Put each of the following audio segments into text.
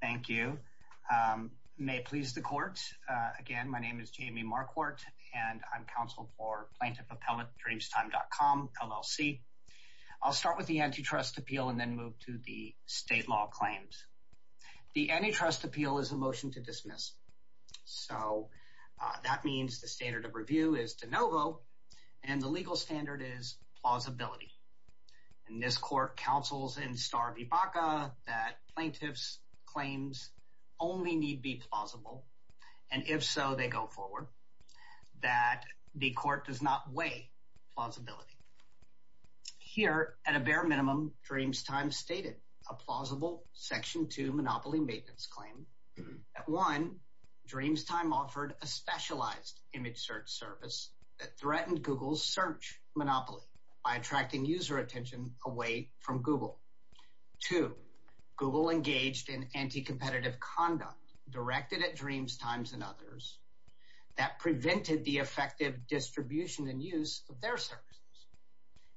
Thank you. May it please the court. Again, my name is Jamie Marquart and I'm counsel for PlaintiffAppellateDreamstime.com, LLC. I'll start with the antitrust appeal and then move to the state law claims. The antitrust appeal is a motion to dismiss. So that means the standard of review is de novo and the legal standard is plausibility. And this court counsels in star v. Baca that plaintiff's claims only need be plausible, and if so, they go forward, that the court does not weigh plausibility. Here, at a bare minimum, Dreamstime stated a plausible Section 2 monopoly maintenance claim. One, Dreamstime offered a specialized image search service that threatened Google's search monopoly by attracting user attention away from Google. Two, Google engaged in anti-competitive conduct directed at Dreamstime and others that prevented the effective distribution and use of their services.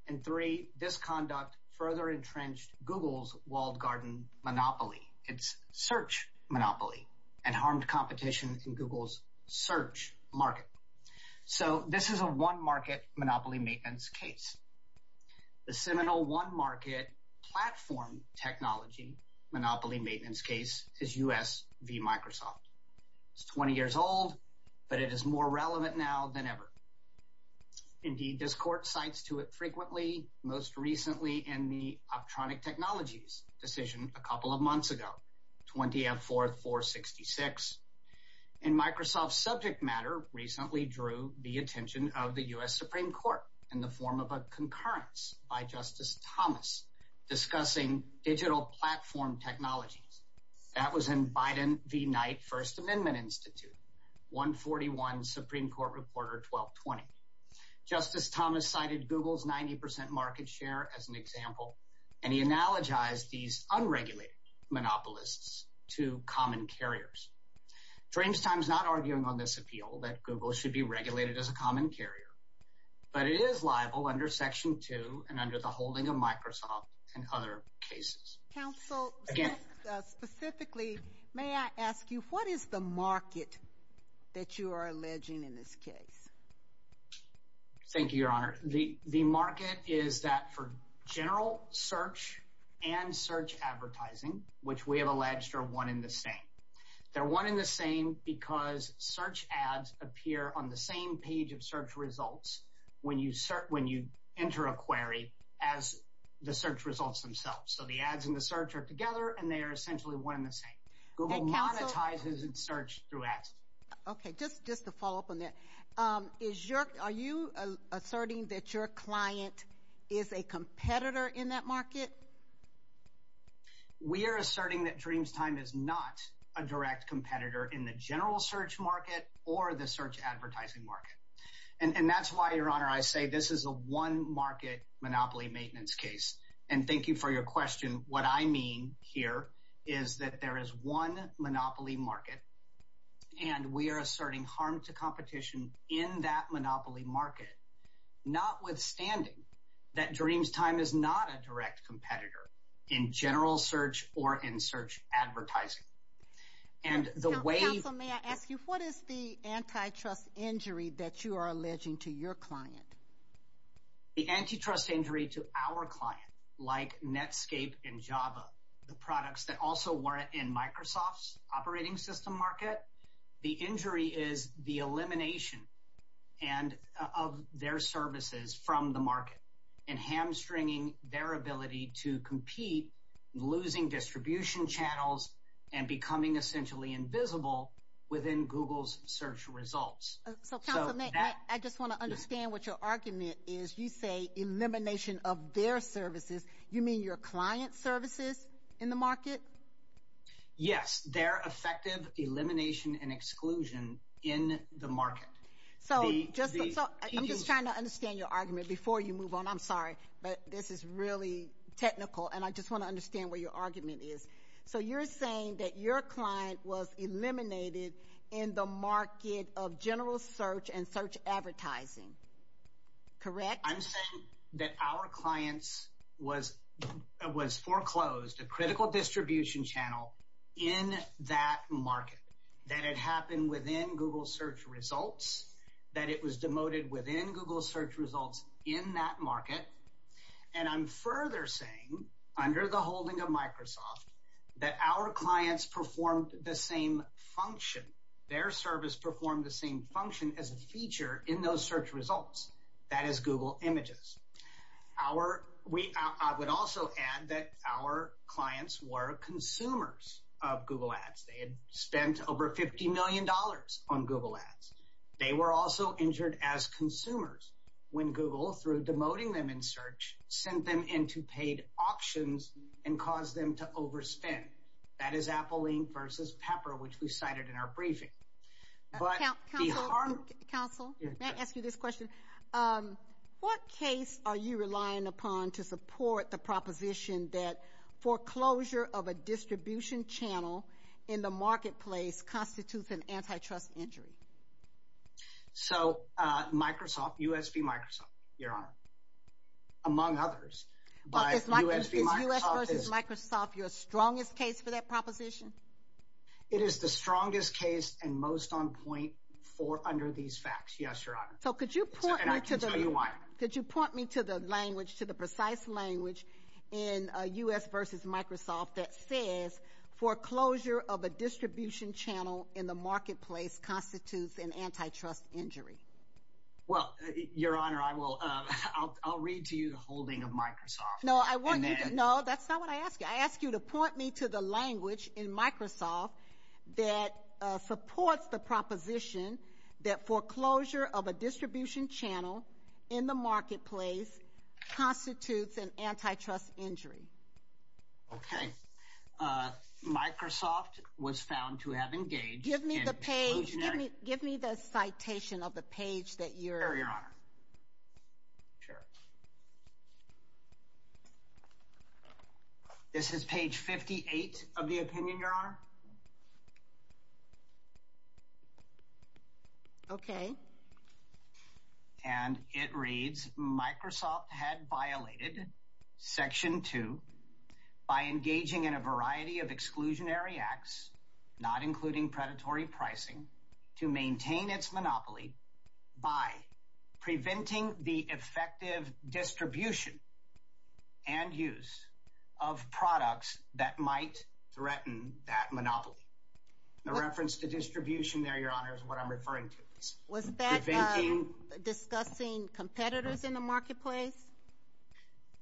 And three, this conduct further entrenched Google's walled garden monopoly, its search monopoly, and harmed competition in Google's search market. So this is a one-market monopoly maintenance case. The seminal one-market platform technology monopoly maintenance case is U.S. v. Microsoft. It's 20 years old, but it is more relevant now than ever. Indeed, this court cites to it frequently, most recently in the Optronic Technologies decision a couple of months ago, 20-F-4-4-66. And Microsoft's subject matter recently drew the attention of the U.S. Supreme Court in the form of a concurrence by Justice Thomas discussing digital platform technologies. That was in Biden v. Knight First Amendment Institute, 141 Supreme Court Reporter 1220. Justice Thomas cited Google's 90% market share as an example, and he analogized these unregulated monopolists to common carriers. Dreamstime's not arguing on this appeal that Google should be regulated as a common carrier, but it is liable under Section 2 and under the holding of Microsoft and other cases. Counsel, specifically, may I ask you, what is the market that you are alleging in this case? Thank you, Your Honor. The market is that for general search and search advertising, which we have alleged are one and the same. They're one and the same because search ads appear on the same page of search results when you enter a query as the search results themselves. So the ads and the search are together, and they are essentially one and the same. Google monetizes its search through ads. Okay. Just to follow up on that, are you asserting that your client is a competitor in that market? We are asserting that Dreamstime is not a direct competitor in the general search market or the search advertising market. And that's why, Your Honor, I say this is a one-market monopoly maintenance case. And thank you for your question. What I mean here is that there is one monopoly market, and we are asserting harm to competition in that monopoly market, notwithstanding that Dreamstime is not a direct competitor in general search or in search advertising. And the way... Counsel, may I ask you, what is the antitrust injury that you are alleging to your client? The antitrust injury to our client, like Netscape and Java, the products that also in Microsoft's operating system market, the injury is the elimination of their services from the market and hamstringing their ability to compete, losing distribution channels, and becoming essentially invisible within Google's search results. So, Counsel, I just want to understand what your argument is. You say elimination of their services. You mean your client's services in the market? Yes, their effective elimination and exclusion in the market. So, I'm just trying to understand your argument before you move on. I'm sorry, but this is really technical, and I just want to understand what your argument is. So you're saying that your client was eliminated in the market of general search and search advertising, correct? I'm saying that our clients was foreclosed a critical distribution channel in that market, that it happened within Google search results, that it was demoted within Google search results in that market. And I'm further saying, under the holding of Microsoft, that our clients performed the same function, their service performed the same function as a feature in those search results, that is Google images. I would also add that our clients were consumers of Google ads. They had spent over $50 million on Google ads. They were also injured as consumers when Google, through demoting them in search, sent them into paid options and caused them to overspend. That is Apple Inc. versus Pepper, which we cited in our briefing. Counsel, may I ask you this what case are you relying upon to support the proposition that foreclosure of a distribution channel in the marketplace constitutes an antitrust injury? So Microsoft, U.S. v. Microsoft, Your Honor, among others by U.S. v. Microsoft. Is U.S. versus Microsoft your strongest case for that proposition? It is the strongest case and most on point for under these facts. Yes, Your Honor. So could you point me to the language, to the precise language in U.S. versus Microsoft that says foreclosure of a distribution channel in the marketplace constitutes an antitrust injury? Well, Your Honor, I'll read to you the holding of Microsoft. No, that's not what I asked you. I asked you to point me to the language in Microsoft that supports the proposition that foreclosure of a distribution channel in the marketplace constitutes an antitrust injury. Okay. Microsoft was found to have engaged. Give me the page. Give me the citation of the page that Your Honor. Sure. This is page 58 of the opinion, Your Honor. Okay. And it reads, Microsoft had violated Section 2 by engaging in a variety of exclusionary acts, not including predatory pricing, to maintain its monopoly by preventing the effective distribution and use of products that might threaten that monopoly. The reference to distribution there, Your Honor, is what I'm referring to. Was that discussing competitors in the marketplace?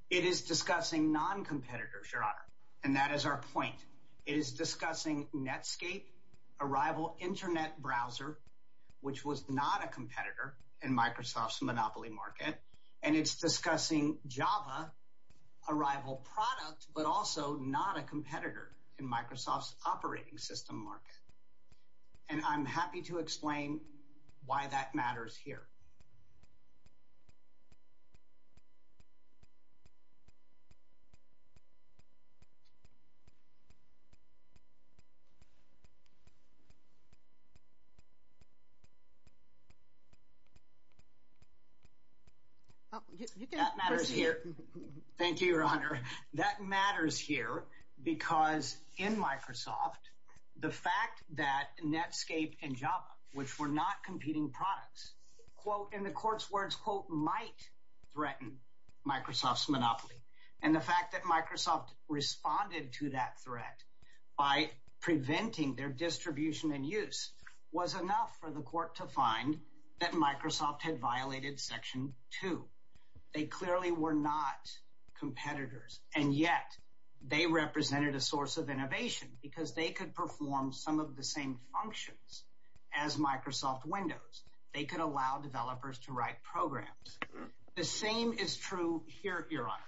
It is discussing non-competitors, Your Honor, and that is our point. It is discussing Netscape, a rival internet browser, which was not a competitor in Microsoft's monopoly market, and it's discussing Java, a rival product, but also not a competitor in Microsoft's operating system market. And I'm happy to explain why that matters here. Oh, you can proceed. That matters here. Thank you, Your Honor. That matters here because in Microsoft, the fact that Netscape and Java, which were not competing products, quote, in the court's words, quote, might threaten Microsoft's monopoly, and the fact that Microsoft responded to that threat by preventing their distribution and use was enough for the court to find that Microsoft had violated Section 2. They clearly were not competitors, and yet they represented a source of innovation because they could perform some of the same functions as Microsoft Windows. They could allow developers to write programs. The same is true here, Your Honor.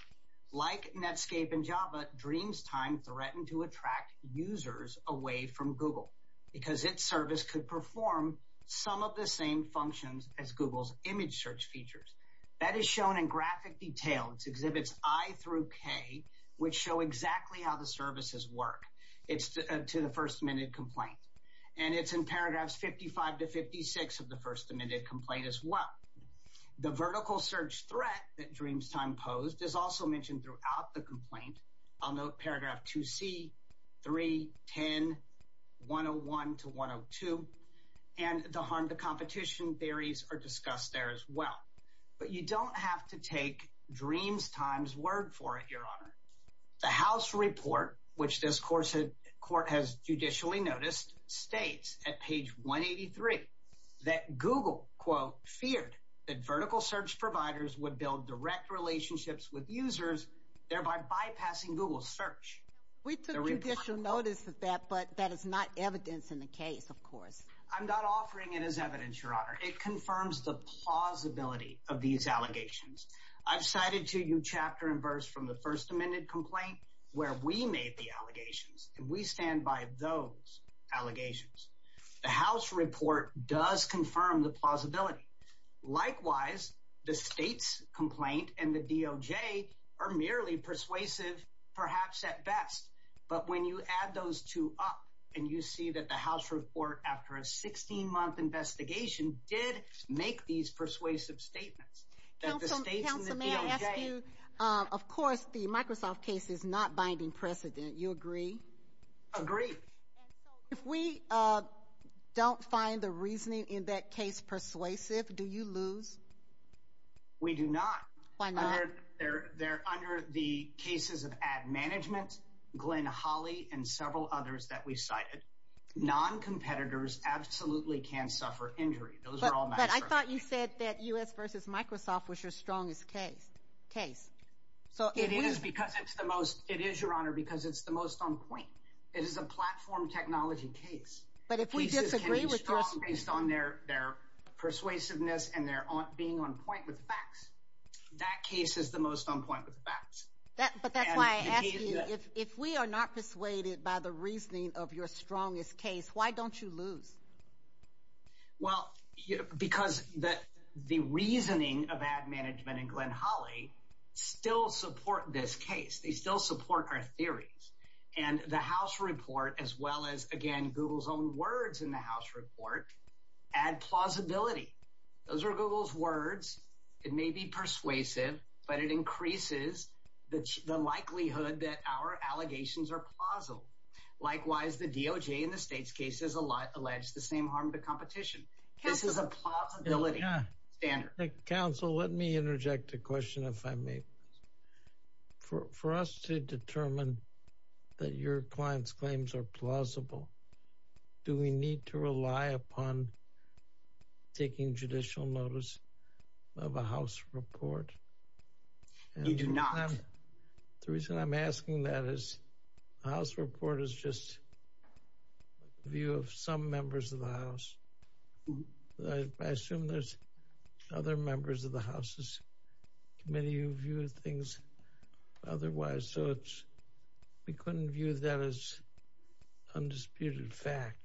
Like Netscape and Java, Dreamstime threatened to attract users away from Google because its service could perform some of the same functions as Google's image search features. That is shown in graphic detail. It exhibits I through K, which show exactly how the services work. It's to the First Amendment complaint, and it's in paragraphs 55 to 56 of the First Amendment complaint as well. The vertical search threat that Dreamstime posed is also mentioned throughout the complaint. I'll note paragraph 2C, 3, 10, 101 to 102, and the harm to competition theories are discussed there as well. But you don't have to take Dreamstime's word for it, Your Honor. The House report, which this court has judicially noticed, states at page 183 that Google, quote, feared that vertical search providers would build direct relationships with users, thereby bypassing Google's search. We took judicial notice of that, but that is not evidence in the case, of course. I'm not offering it as evidence, Your Honor. It confirms the plausibility of these allegations. I've cited to you chapter and verse from the First Amendment complaint where we made the allegations, and we stand by those allegations. The House report does confirm the plausibility. Likewise, the state's complaint and the DOJ are merely persuasive, perhaps at best. But when you add those two up, and you see that the House report, after a 16-month investigation, did make these persuasive statements, that the state and the DOJ... Counsel, may I ask you, of course, the Microsoft case is not binding precedent. You agree? Agree. If we don't find the reasoning in that case persuasive, do you lose? We do not. Why not? They're under the cases of Ad Management, Glenn Hawley, and several others that we cited. Non-competitors absolutely can suffer injury. Those are all... But I thought you said that U.S. versus Microsoft was your strongest case. It is, Your Honor, because it's the most on point. It is a platform technology case. But if we disagree with your... Based on their persuasiveness and their being on point with facts, that case is the most on point with facts. But that's why I ask you, if we are not persuaded by the reasoning of your strongest case, why don't you lose? Well, because the reasoning of Ad Management and Glenn Hawley still support this case. They still support our theories. And the House report, as well as, again, Google's own words in the House report, add plausibility. Those are Google's words. It may be persuasive, but it increases the likelihood that our allegations are plausible. Likewise, the DOJ in the state's case has alleged the same harm to competition. Counsel... This is a plausibility standard. Counsel, let me interject a question, if I may. For us to determine that your client's claims are plausible, do we need to rely upon taking judicial notice of a House report? You do not. The reason I'm asking that is the House report is just a view of some members of the House. I assume there's other members of the House's committee who view things otherwise, so we couldn't view that as undisputed fact.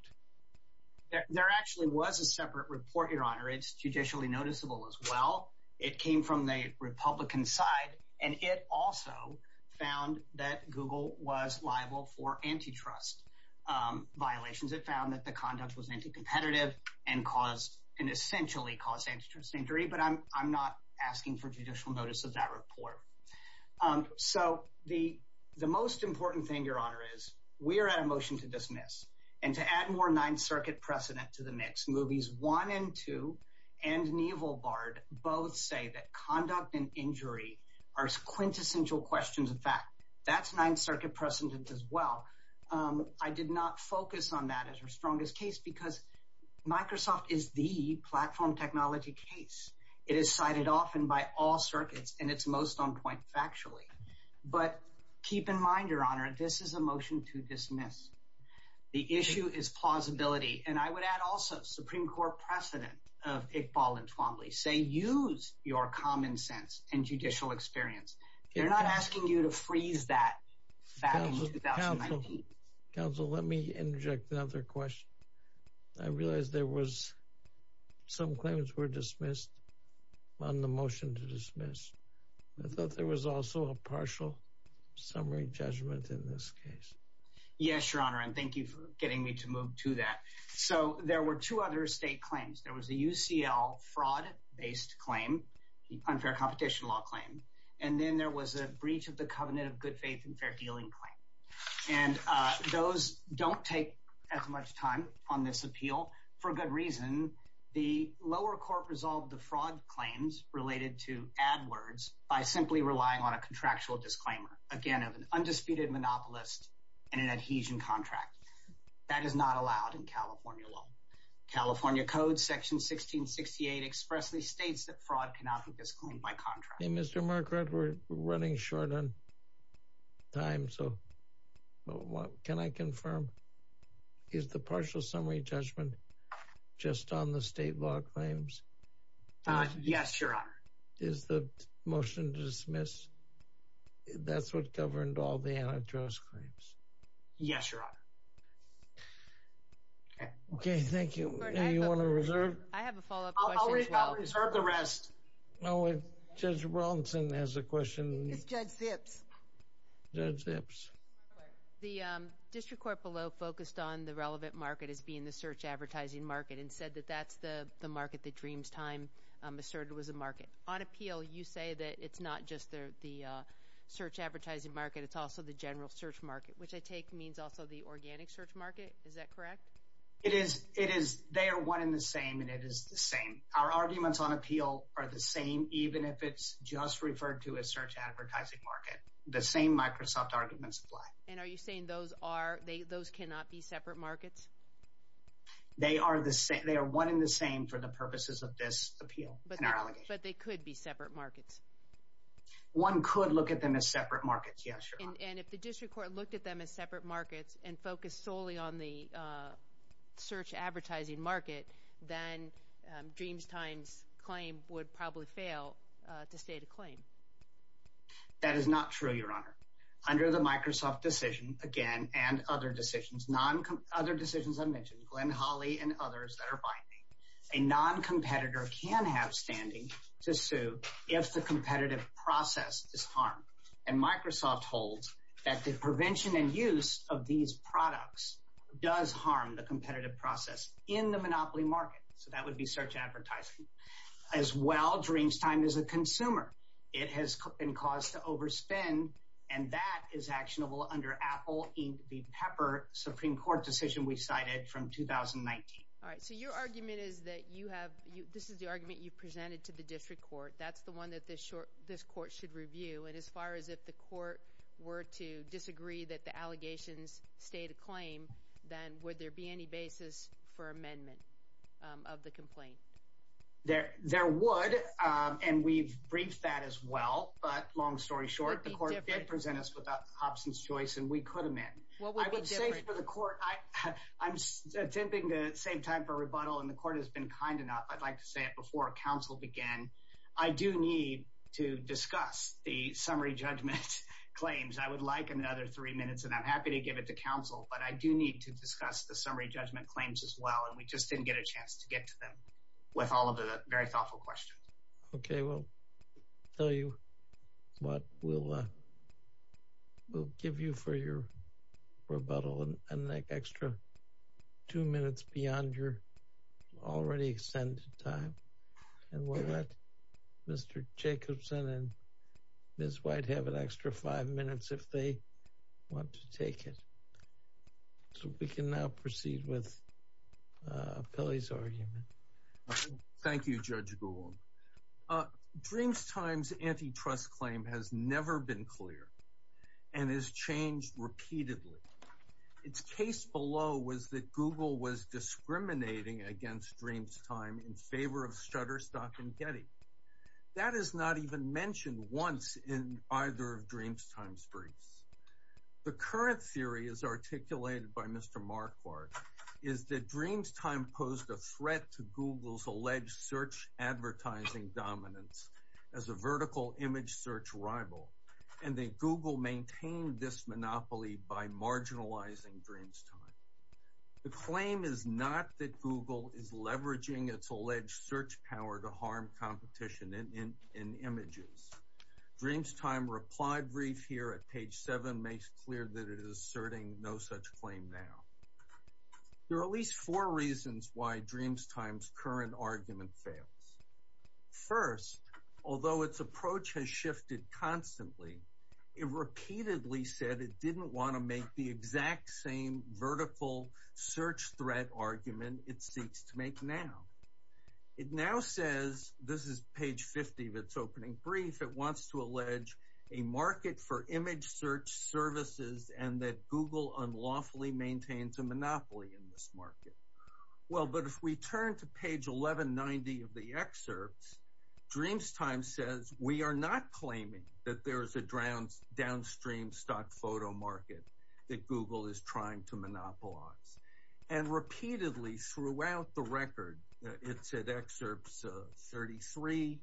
There actually was a separate report, Your Honor. It's judicially noticeable, as well. It came from the Republican side, and it also found that Google was liable for antitrust violations. It found that the conduct was anti-competitive and essentially caused antitrust injury, but I'm not asking for judicial notice of that report. So the most important thing, Your Honor, is we are at a motion to dismiss, and to add more Ninth Circuit precedent to the mix. Movies One and Two and Neival Bard both say that conduct and injury are quintessential questions of fact. That's Ninth Circuit precedent, as well. I did not focus on that as your strongest case because Microsoft is the platform technology case. It is cited often by all circuits, and it's most on point factually. But keep in mind, Your Honor, this is a motion to dismiss. The issue is plausibility, and I would add also Supreme Court precedent of Iqbal and Twombly say, use your common sense and judicial experience. They're not asking you to freeze that fact in 2019. Counsel, let me interject another question. I realize there was some claims were dismissed on the motion to dismiss. I thought there was also a partial summary judgment in this case. Yes, Your Honor, and thank you for getting me to move to that. So there were two other state claim, the unfair competition law claim, and then there was a breach of the covenant of good faith and fair dealing claim. And those don't take as much time on this appeal for good reason. The lower court resolved the fraud claims related to AdWords by simply relying on a contractual disclaimer, again, of an undisputed monopolist and an adhesion contract. That is not allowed in California law. California code section 1668 expressly states that fraud cannot be disclaimed by contract. Mr. Marquardt, we're running short on time, so can I confirm, is the partial summary judgment just on the state law claims? Yes, Your Honor. Is the motion to Okay, thank you. Do you want to reserve? I have a follow-up question as well. I'll reserve the rest. Judge Robinson has a question. It's Judge Zips. Judge Zips. The district court below focused on the relevant market as being the search advertising market and said that that's the market that Dreamtime asserted was a market. On appeal, you say that it's not just the search advertising market, it's also the general search market, which I take means also the organic search Is that correct? It is. It is. They are one in the same, and it is the same. Our arguments on appeal are the same, even if it's just referred to as search advertising market. The same Microsoft arguments apply. And are you saying those cannot be separate markets? They are one in the same for the purposes of this appeal. But they could be separate markets. One could look at them as separate markets, yes, Your Honor. And if the district court looked at them as separate markets and focused solely on the search advertising market, then Dreamtime's claim would probably fail to state a claim. That is not true, Your Honor. Under the Microsoft decision, again, and other decisions, other decisions I mentioned, Glenn Hawley and others that are binding, a non-competitor can have standing to sue if the competitive process is harmed. And Microsoft holds that the prevention and use of these products does harm the competitive process in the monopoly market. So that would be search advertising. As well, Dreamtime is a consumer. It has been caused to overspend, and that is actionable under Apple Inc. v. Pepper, Supreme Court decision we cited from 2019. All right. So your argument is that you have, this is the argument you presented to the district court. That's the one that this court should review. And as far as if the court were to disagree that the allegations state a claim, then would there be any basis for amendment of the complaint? There would, and we've briefed that as well. But long story short, the court did present us with an absence choice, and we could amend. I would say for the court, I'm attempting to save time for rebuttal, and the court has been kind enough, I'd like to say it again. I do need to discuss the summary judgment claims. I would like another three minutes, and I'm happy to give it to counsel, but I do need to discuss the summary judgment claims as well, and we just didn't get a chance to get to them with all of the very thoughtful questions. Okay. We'll tell you what we'll give you for your rebuttal, and an extra two minutes beyond your already extended time. And we'll let Mr. Jacobson and Ms. White have an extra five minutes if they want to take it. So we can now proceed with Pilley's argument. Thank you, Judge Gould. Dreamtime's antitrust claim has never been clear, and has changed repeatedly. Its case below was that Google was discriminating against Dreamtime in favor of Shutterstock and Getty. That is not even mentioned once in either of Dreamtime's briefs. The current theory as articulated by Mr. Marquardt is that Dreamtime posed a threat to Google's alleged search advertising dominance as a vertical image search rival, and that Google maintained this by marginalizing Dreamtime. The claim is not that Google is leveraging its alleged search power to harm competition in images. Dreamtime replied brief here at page seven makes clear that it is asserting no such claim now. There are at least four reasons why Dreamtime's current argument fails. First, although its approach has shifted constantly, it repeatedly said it didn't want to make the exact same vertical search threat argument it seeks to make now. It now says, this is page 50 of its opening brief, it wants to allege a market for image search services and that Google unlawfully maintains a monopoly in this market. Well, but if we turn to page 1190 of the excerpts, Dreamtime says we are not claiming that there is a downstream stock photo market that Google is trying to monopolize. And repeatedly throughout the record, it said excerpts 33,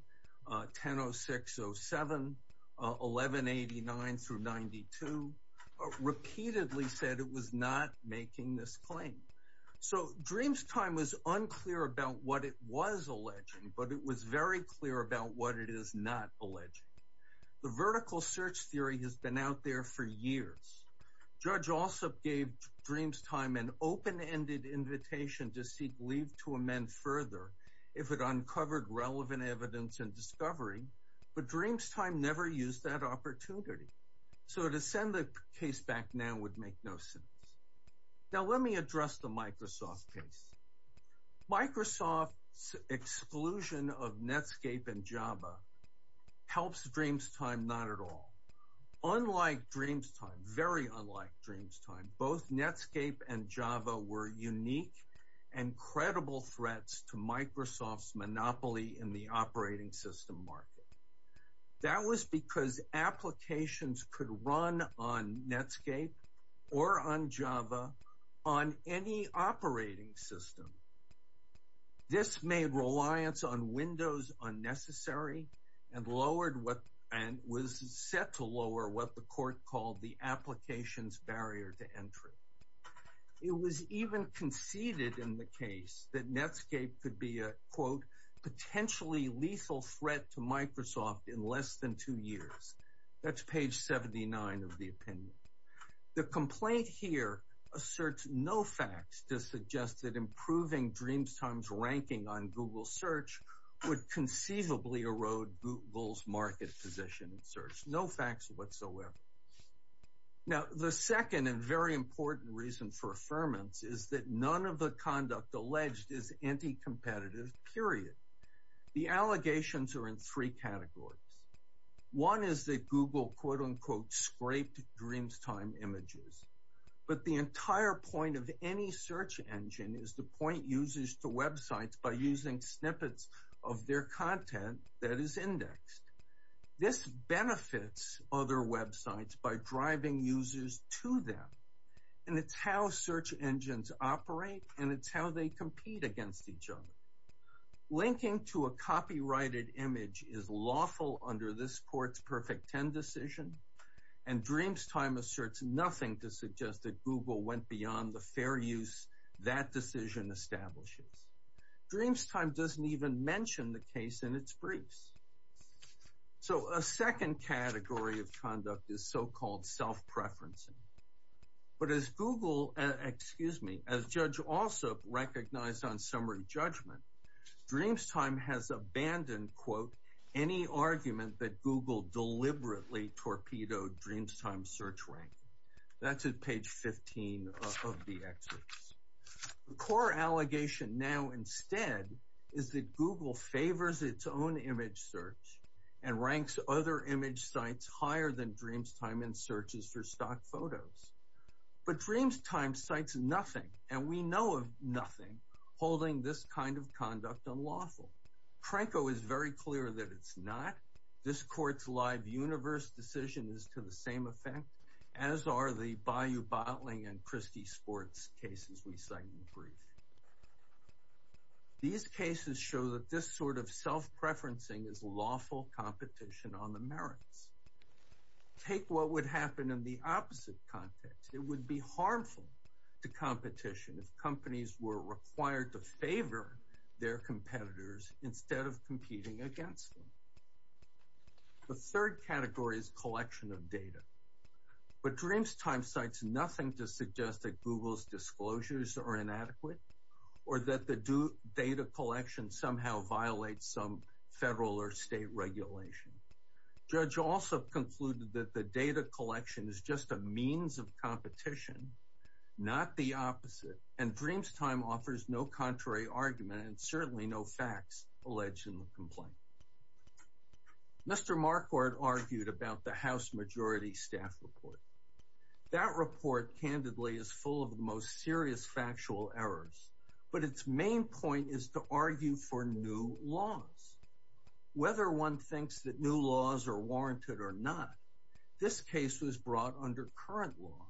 10.06.07, 11.89 through 92, repeatedly said it was not making this claim. So Dreamtime was unclear about what it was alleging, but it was very clear about what it is not alleging. The vertical search theory has been out there for years. Judge Alsop gave Dreamtime an open-ended invitation to seek leave to amend further if it uncovered relevant evidence and discovery, but Dreamtime never used that opportunity. So to send the case back now would make no sense. Now let me address the Microsoft case. Microsoft's exclusion of Netscape and Java helps Dreamtime not at all. Unlike Dreamtime, very unlike Dreamtime, both Netscape and Java were unique and credible threats to Microsoft's monopoly in the operating system market. That was because applications could run on Netscape or on Java on any operating system. This made reliance on Windows unnecessary and was set to lower what the court called the application's barrier to entry. It was even conceded in the case that Netscape could be a quote, potentially lethal threat to Microsoft in less than two years. That's page 79 of the opinion. The complaint here asserts no facts to suggest that improving Dreamtime's ranking on Google search would conceivably erode Google's market position in search. No facts whatsoever. Now, the second and very important reason for affirmance is that none of the conduct alleged is anti-competitive, period. The allegations are in three categories. One is that Google, quote unquote, scraped Dreamtime images. But the entire point of any search engine is the point users to websites by using snippets of their content that is indexed. This benefits other websites by driving users to them. And it's how search engines operate and it's how they compete against each other. Linking to a copyrighted image is lawful under this court's Perfect Ten decision. And Dreamtime asserts nothing to suggest that Google went beyond the fair use that decision establishes. Dreamtime doesn't even mention the case in its briefs. So a second category of conduct is so-called self-preferencing. But as Google, excuse me, as Judge Alsop recognized on summary judgment, Dreamtime has abandoned, quote, any argument that Google deliberately torpedoed Dreamtime's search rank. That's at page 15 of the excerpts. The core allegation now instead is that Google favors its own image search and ranks other image sites higher than Dreamtime in searches for stock photos. But Dreamtime cites nothing, and we know of nothing, holding this kind of conduct unlawful. Pranko is very clear that it's not. This court's live universe decision is to the same effect, as are the Bayou Bottling and Christie Sports cases we cite in the brief. These cases show that this sort of self-preferencing is lawful competition on the merits. Take what would happen in the opposite context. It would be harmful to competition if companies were required to favor their competitors instead of competing against them. The third category is collection of data. But Dreamtime cites nothing to suggest that Google's disclosures are inadequate or that the data collection somehow violates some federal or state regulation. Judge Alsop concluded that the data collection is just a means of competition, not the opposite. And Dreamtime offers no contrary argument and certainly no facts alleged in the complaint. Mr. Marquardt argued about the House Majority Staff report. That report, candidly, is full of the most serious factual errors, but its main point is to argue for new laws. Whether one thinks that new laws are warranted or not, this case was brought under current law,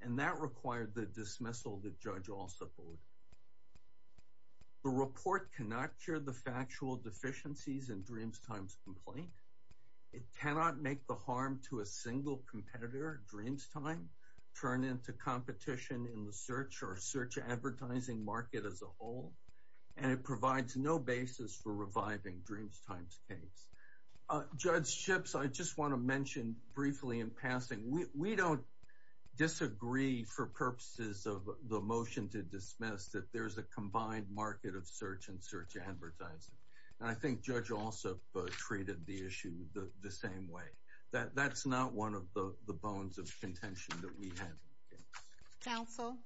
and that required the dismissal that Judge Alsop ordered. The report cannot cure the factual deficiencies in Dreamtime's complaint. It cannot make the harm to a single competitor, Dreamtime, turn into competition in the search or search advertising market as a whole. And it provides no basis for reviving Dreamtime's case. Judge Schipps, I just want to mention briefly in passing, we don't disagree for purposes of the motion to dismiss that there's a combined market of search and search advertising. And I think Judge Alsop treated the issue the same way. That's not one of the bones of contention that we have. Counsel?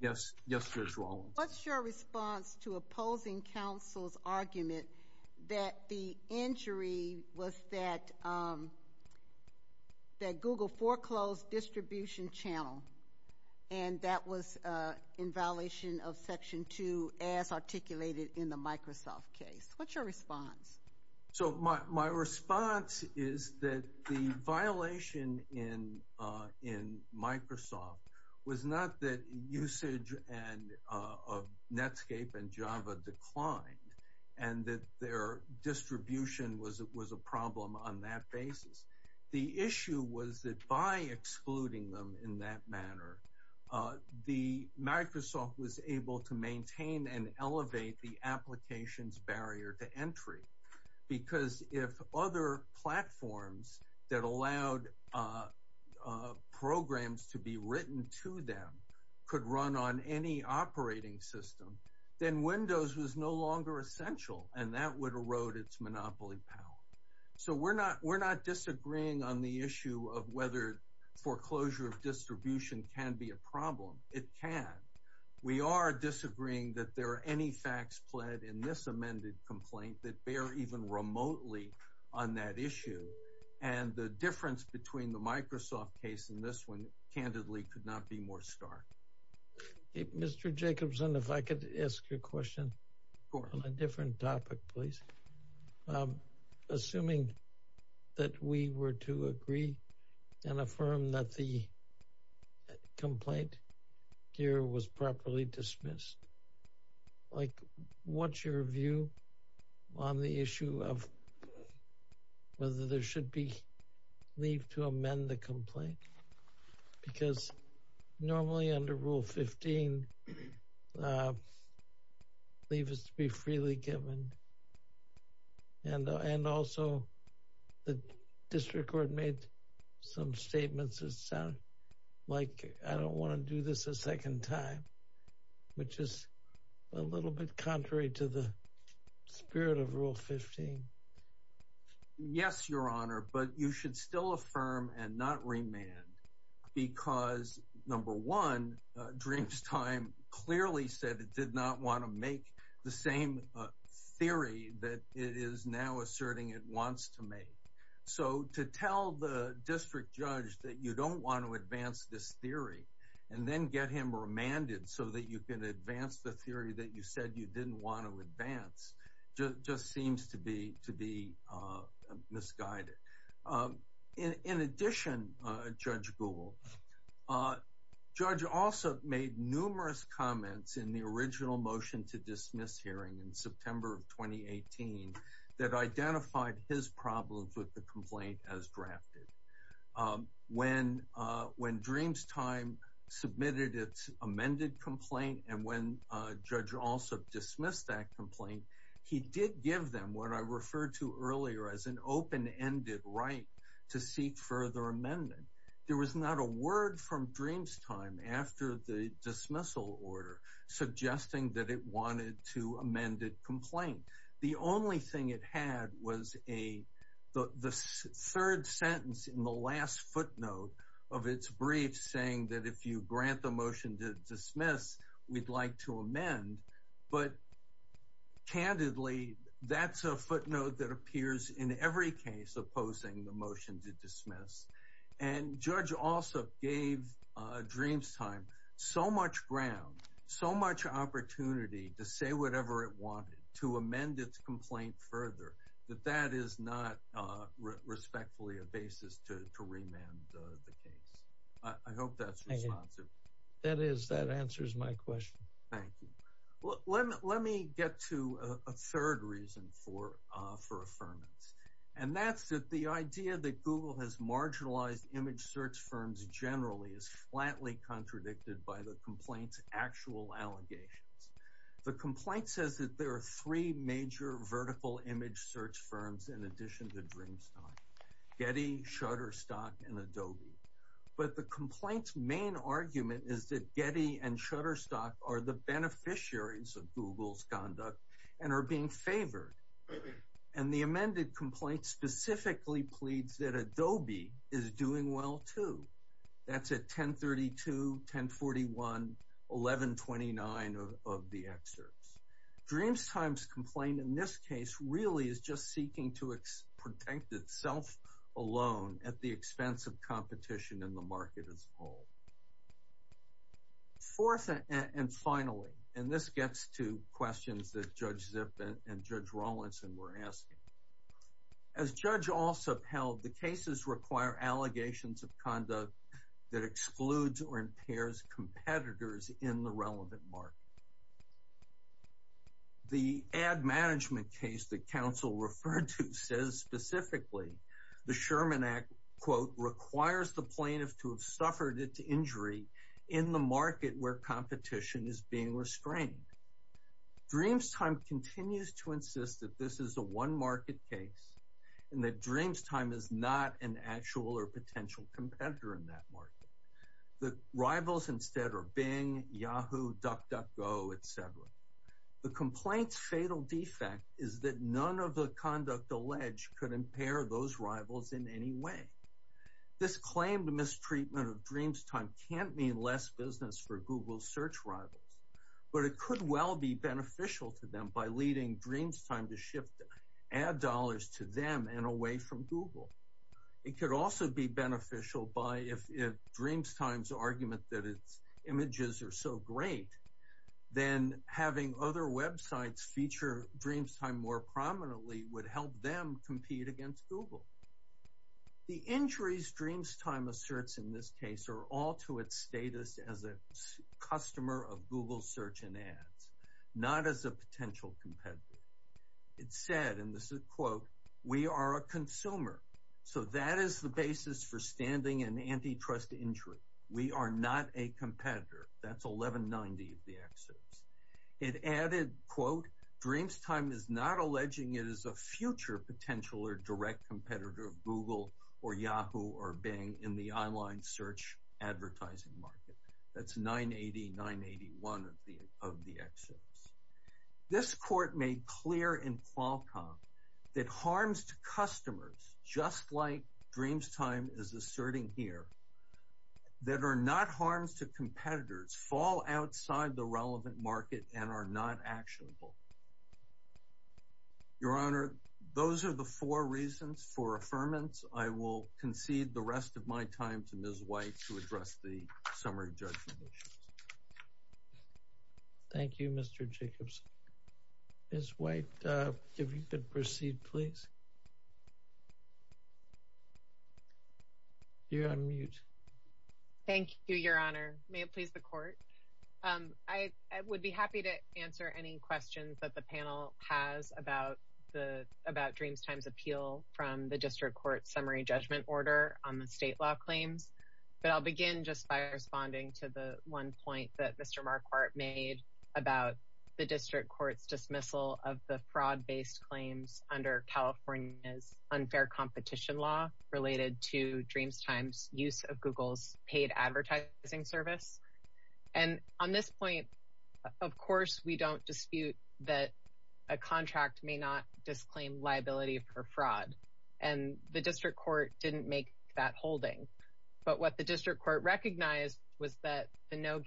Yes, Judge Rollins. What's your response to opposing counsel's argument that the injury was that Google foreclosed distribution channel, and that was in violation of Section 2, as articulated in the Microsoft case? What's your response? So my response is that the violation in Microsoft was not that usage of Netscape and Java declined, and that their distribution was a problem on that basis. The issue was that by excluding them in that manner, Microsoft was able to maintain and elevate the application's barrier to entry. Because if other platforms that allowed programs to be written to them could run on any operating system, then Windows was no longer essential, and that would erode its monopoly power. So we're not disagreeing on the issue of whether foreclosure of distribution can be a problem. It can. We are disagreeing that there are any facts pled in this amended complaint that bear even remotely on that issue. And the difference between the Microsoft case and this one, candidly, could not be more stark. Mr. Jacobson, if I could ask you a question on a different topic, please. Assuming that we were to agree and affirm that the complaint here was properly dismissed, like, what's your view on the issue of whether there should be leave to amend the complaint? Because normally under Rule 15, leave is to be freely given. And also, the district court made some statements that sound like, I don't want to do this a second time, which is a little bit contrary to the spirit of Rule 15. Yes, Your Honor, but you should still affirm and not remand because, number one, Dreamtime clearly said it did not want to make the same theory that it is now asserting it wants to make. So to tell the district judge that you don't want to advance this theory and then get him remanded so that you can advance the theory that you said you didn't want to advance just seems to be misguided. In addition, Judge Gould, Judge Alsup made numerous comments in the original motion to dismiss hearing in September of 2018 that identified his problems with the complaint as drafted. When Dreamtime submitted its amended complaint and when Judge Alsup dismissed that complaint, he did give them what I referred to earlier as an open-ended right to seek further amendment. There was not a word from Dreamtime after the dismissal order suggesting that it wanted to amend the complaint. The only thing it had was the third sentence in the last footnote of its brief saying that if you grant the motion to dismiss, we'd like to amend. But, candidly, that's a footnote that appears in every case opposing the motion to dismiss. And Judge Alsup gave Dreamtime so much ground, so much opportunity to say whatever it wanted, to amend its complaint further, that that is not respectfully a basis to remand the case. I hope that's responsive. That is. That answers my question. Thank you. Well, let me get to a third reason for affirmance. And that's that the idea that Google has marginalized image search firms generally is flatly contradicted by the complaint's actual allegations. The complaint says that there are three major vertical image search firms in addition to Dreamtime, Getty, Shutterstock, and Adobe. But the complaint's main argument is that Getty and Shutterstock are the beneficiaries of Google's conduct and are being favored. And the amended complaint specifically pleads that Adobe is doing well too. That's at 1032, 1041, 1129 of the excerpts. Dreamtime's complaint in this case really is just seeking to protect itself alone at the expense of competition in the market as a whole. Fourth and finally, and this gets to questions that Judge Zipp and Judge Rawlinson were asking, as Judge Alsop held, the cases require allegations of conduct that excludes or impairs competitors in the relevant market. The ad management case that counsel referred to says specifically the Sherman Act, quote, requires the plaintiff to have suffered its injury in the market where competition is being restrained. Dreamtime continues to insist that this is a one-market case and that Dreamtime is not an actual or potential competitor in that market. The rivals instead are Bing, Yahoo, DuckDuckGo, et cetera. The complaint's fatal defect is that none of the conduct alleged could impair those rivals in any way. This claim to mistreatment of Dreamtime can't mean less business for Google's search rivals, but it could well be beneficial to them by leading Dreamtime to shift the ad dollars to them and away from Google. It could also be beneficial by if Dreamtime's argument that its images are so great, then having other websites feature Dreamtime more prominently would help them compete against Google. The injuries Dreamtime asserts in this case are all to its status as a customer of Google search and ads, not as a potential competitor. It said, and this is a quote, we are a consumer, so that is the basis for standing in antitrust injury. We are not a competitor. That's 1190 of the excerpts. It added, quote, Dreamtime is not alleging it is a future potential or direct competitor of Google or Yahoo or Bing in the online search advertising market. That's 980, 981 of the excerpts. This court made clear in Qualcomm that harms to customers, just like Dreamtime is asserting here, that are not harms to competitors fall outside the relevant market and are not actionable. Your Honor, those are the four reasons for affirmance. I will concede the rest of my time to Ms. White to address the summary judgment issues. Thank you, Mr. Jacobs. Ms. White, if you could proceed, please. You're on mute. Thank you, Your Honor. May it please the court. I would be happy to answer any questions that the panel has about Dreamtime's appeal from the district court summary judgment order on the state law claims, but I'll begin just by responding to the one point that Mr. Marquardt made about the district court's dismissal of the fraud-based claims under California's unfair competition law related to Dreamtime's use of Google's paid advertising service. And on this point, of course, we don't dispute that a contract may not disclaim liability for fraud, and the district court didn't make that holding. But what the district court recognized was that the no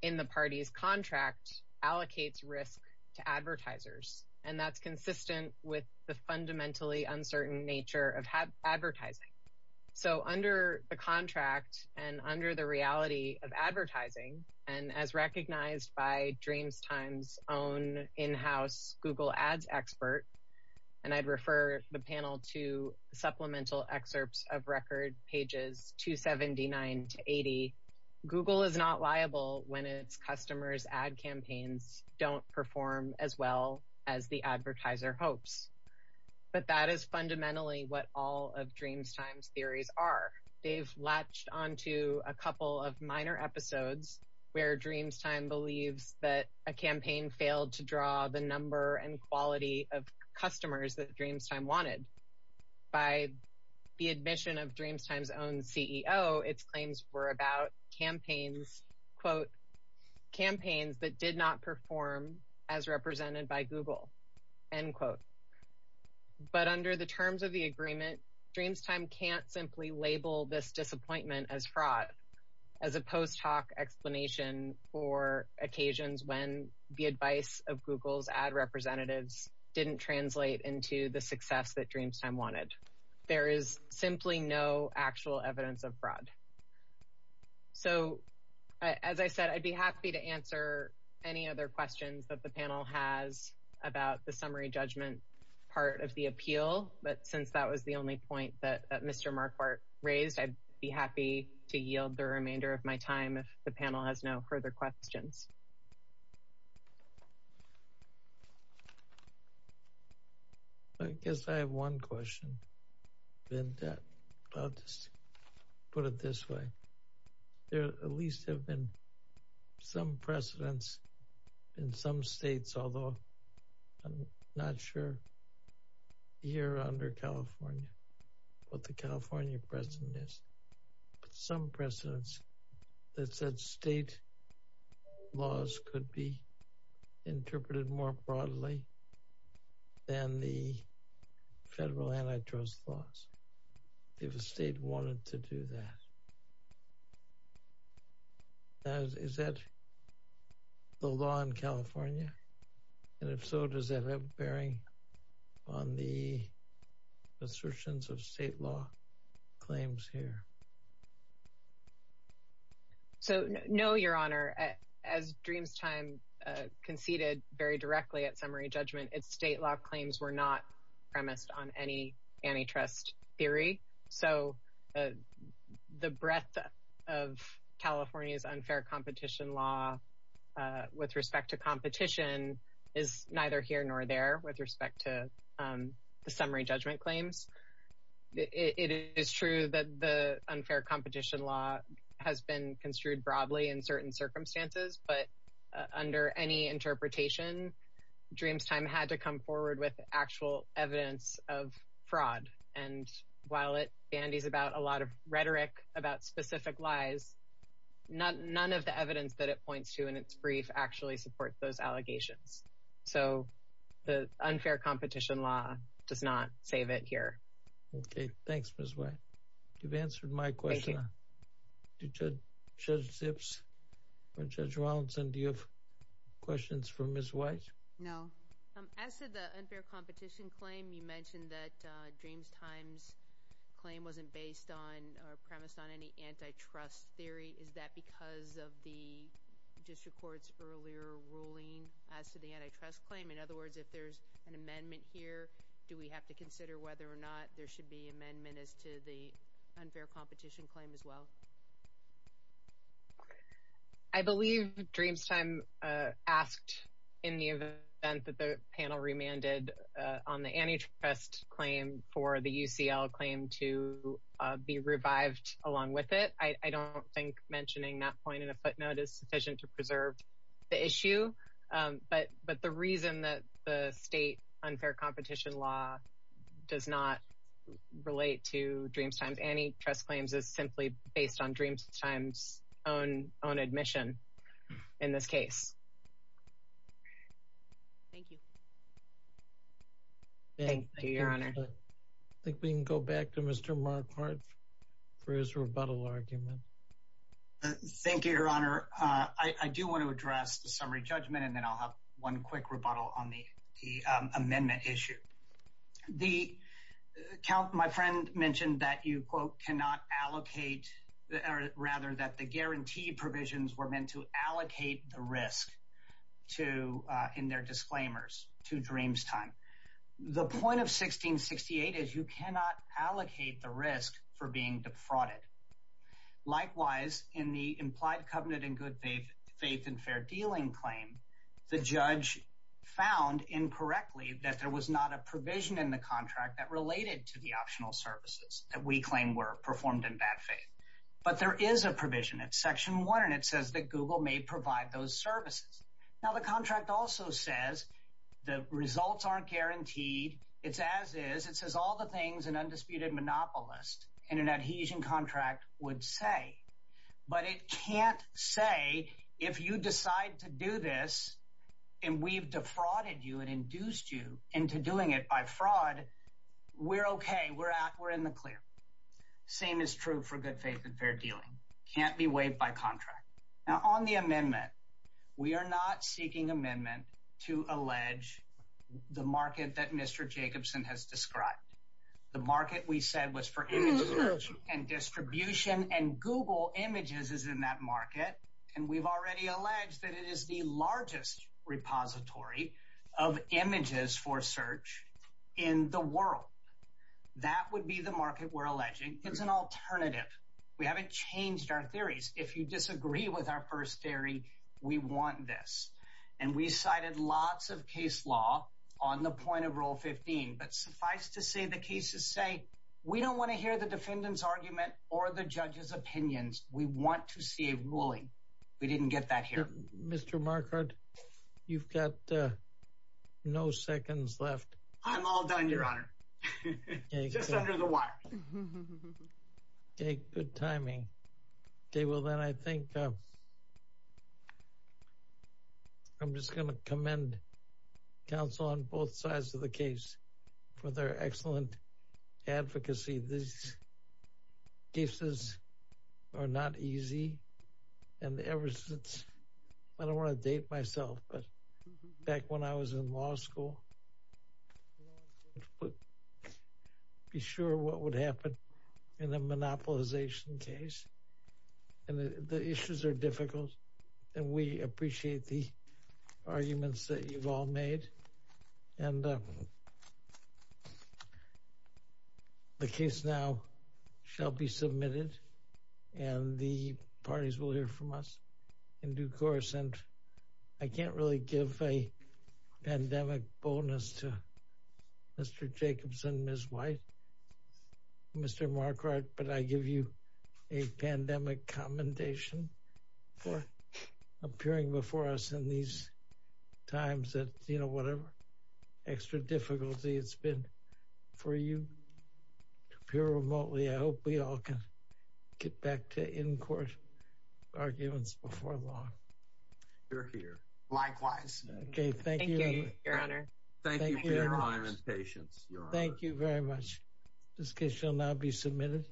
in the party's contract allocates risk to advertisers, and that's consistent with the fundamentally uncertain nature of advertising. So under the contract and under the reality of advertising, and as recognized by Dreamtime's own in-house Google Ads expert, and I'd refer the panel to supplemental excerpts of record pages 279 to 80, Google is not liable when its customers' ad campaigns don't perform as well as the advertiser hopes. But that is fundamentally what all of Dreamtime's theories are. They've latched onto a couple of minor episodes where Dreamtime believes that a campaign failed to draw the number and quality of customers that wanted. By the admission of Dreamtime's own CEO, its claims were about campaigns, quote, campaigns that did not perform as represented by Google, end quote. But under the terms of the agreement, Dreamtime can't simply label this disappointment as fraud as a post-talk explanation for occasions when the advice of Google's ad representatives didn't translate into the success that Dreamtime wanted. There is simply no actual evidence of fraud. So as I said, I'd be happy to answer any other questions that the panel has about the summary judgment part of the appeal, but since that was the only point that Mr. Marquardt raised, I'd be happy to yield the remainder of my time if the panel has no further questions. I guess I have one question. I'll just put it this way. There at least have been some precedents in some states, although I'm not sure here under California, what the California precedent is, but some precedents that said state laws could be than the federal antitrust laws, if a state wanted to do that. Is that the law in California? And if so, does that have a bearing on the assertions of state law claims here? No, Your Honor. As Dreamtime conceded very directly at summary judgment, its state law claims were not premised on any antitrust theory. So the breadth of California's unfair competition law with respect to competition is neither here nor there with respect to summary judgment claims. It is true that the unfair competition law has been construed broadly in certain circumstances, but under any interpretation, Dreamtime had to come forward with actual evidence of fraud. And while it bandies about a lot of rhetoric about specific lies, none of the evidence that it points to in its brief actually supports those allegations. So the unfair competition law does not save it here. Okay, thanks, Ms. White. You've answered my question. Thank you. Judge Zips or Judge Rawlinson, do you have questions for Ms. White? No. As to the unfair competition claim, you mentioned that Dreamtime's claim wasn't based on or premised on any antitrust theory. Is that because of the district court's earlier ruling as to the antitrust claim? In other words, if there's an amendment here, do we have to consider whether or not there should be amendment as to the unfair competition claim as well? I believe Dreamtime asked in the event that the panel remanded on the antitrust claim for the UCL claim to be revived along with it. I don't think that point in the footnote is sufficient to preserve the issue. But the reason that the state unfair competition law does not relate to Dreamtime's antitrust claims is simply based on Dreamtime's own admission in this case. Thank you. I think we can go back to Mr. Markhart for his rebuttal argument. Thank you, Your Honor. I do want to address the summary judgment, and then I'll have one quick rebuttal on the amendment issue. My friend mentioned that you, quote, cannot allocate rather that the guarantee provisions were meant to allocate the risk to in their disclaimers to Dreamtime. The point of 1668 is you cannot allocate the risk for being defrauded. Likewise, in the implied covenant in good faith and fair dealing claim, the judge found incorrectly that there was not a provision in the contract that related to the optional services that we claim were performed in bad faith. But there is a provision in section one, and it says that Google may provide those services. Now, the contract also says the results aren't guaranteed. It's as is. It says all the things an undisputed monopolist in an adhesion contract would say. But it can't say if you decide to do this, and we've defrauded you and induced you into doing it by fraud, we're okay. We're out. We're in the clear. Same is true for good faith and fair dealing. Can't be waived by contract. Now, on the amendment, we are not seeking amendment to allege the market that Mr. Jacobson has described. The market we said was for image search and distribution and Google images is in that market, and we've already alleged that it is the largest repository of images for search in the world. That would be the market we're alleging. It's an alternative. We haven't changed our theories. If you disagree with our first theory, we want this, and we cited lots of case law on the point of rule 15, but suffice to say the cases say we don't want to hear the defendant's argument or the judge's opinions. We want to see a ruling. We didn't get that here. Mr. Marquardt, you've got no seconds left. I'm all done, your honor. Just under the wire. Okay, good timing. Okay, well, then I think I'm just going to commend counsel on both sides of the case for their excellent advocacy. These cases are not easy, and ever since, I don't want to date myself, but back when I was in law school, I couldn't be sure what would happen in a monopolization case, and the issues are difficult, and we appreciate the arguments that you've all made, and the case now shall be submitted, and the parties will hear from us in due course, and I can't really give a pandemic bonus to Mr. Jacobson, Ms. White, Mr. Marquardt, but I give you a pandemic commendation for appearing before us in these times that, you know, whatever extra difficulty it's been for you to appear remotely. I hope we all can get back to in-court arguments before long. You're here. Likewise. Okay, thank you, your honor. Thank you for your time and patience. Thank you very much. This case shall now be submitted.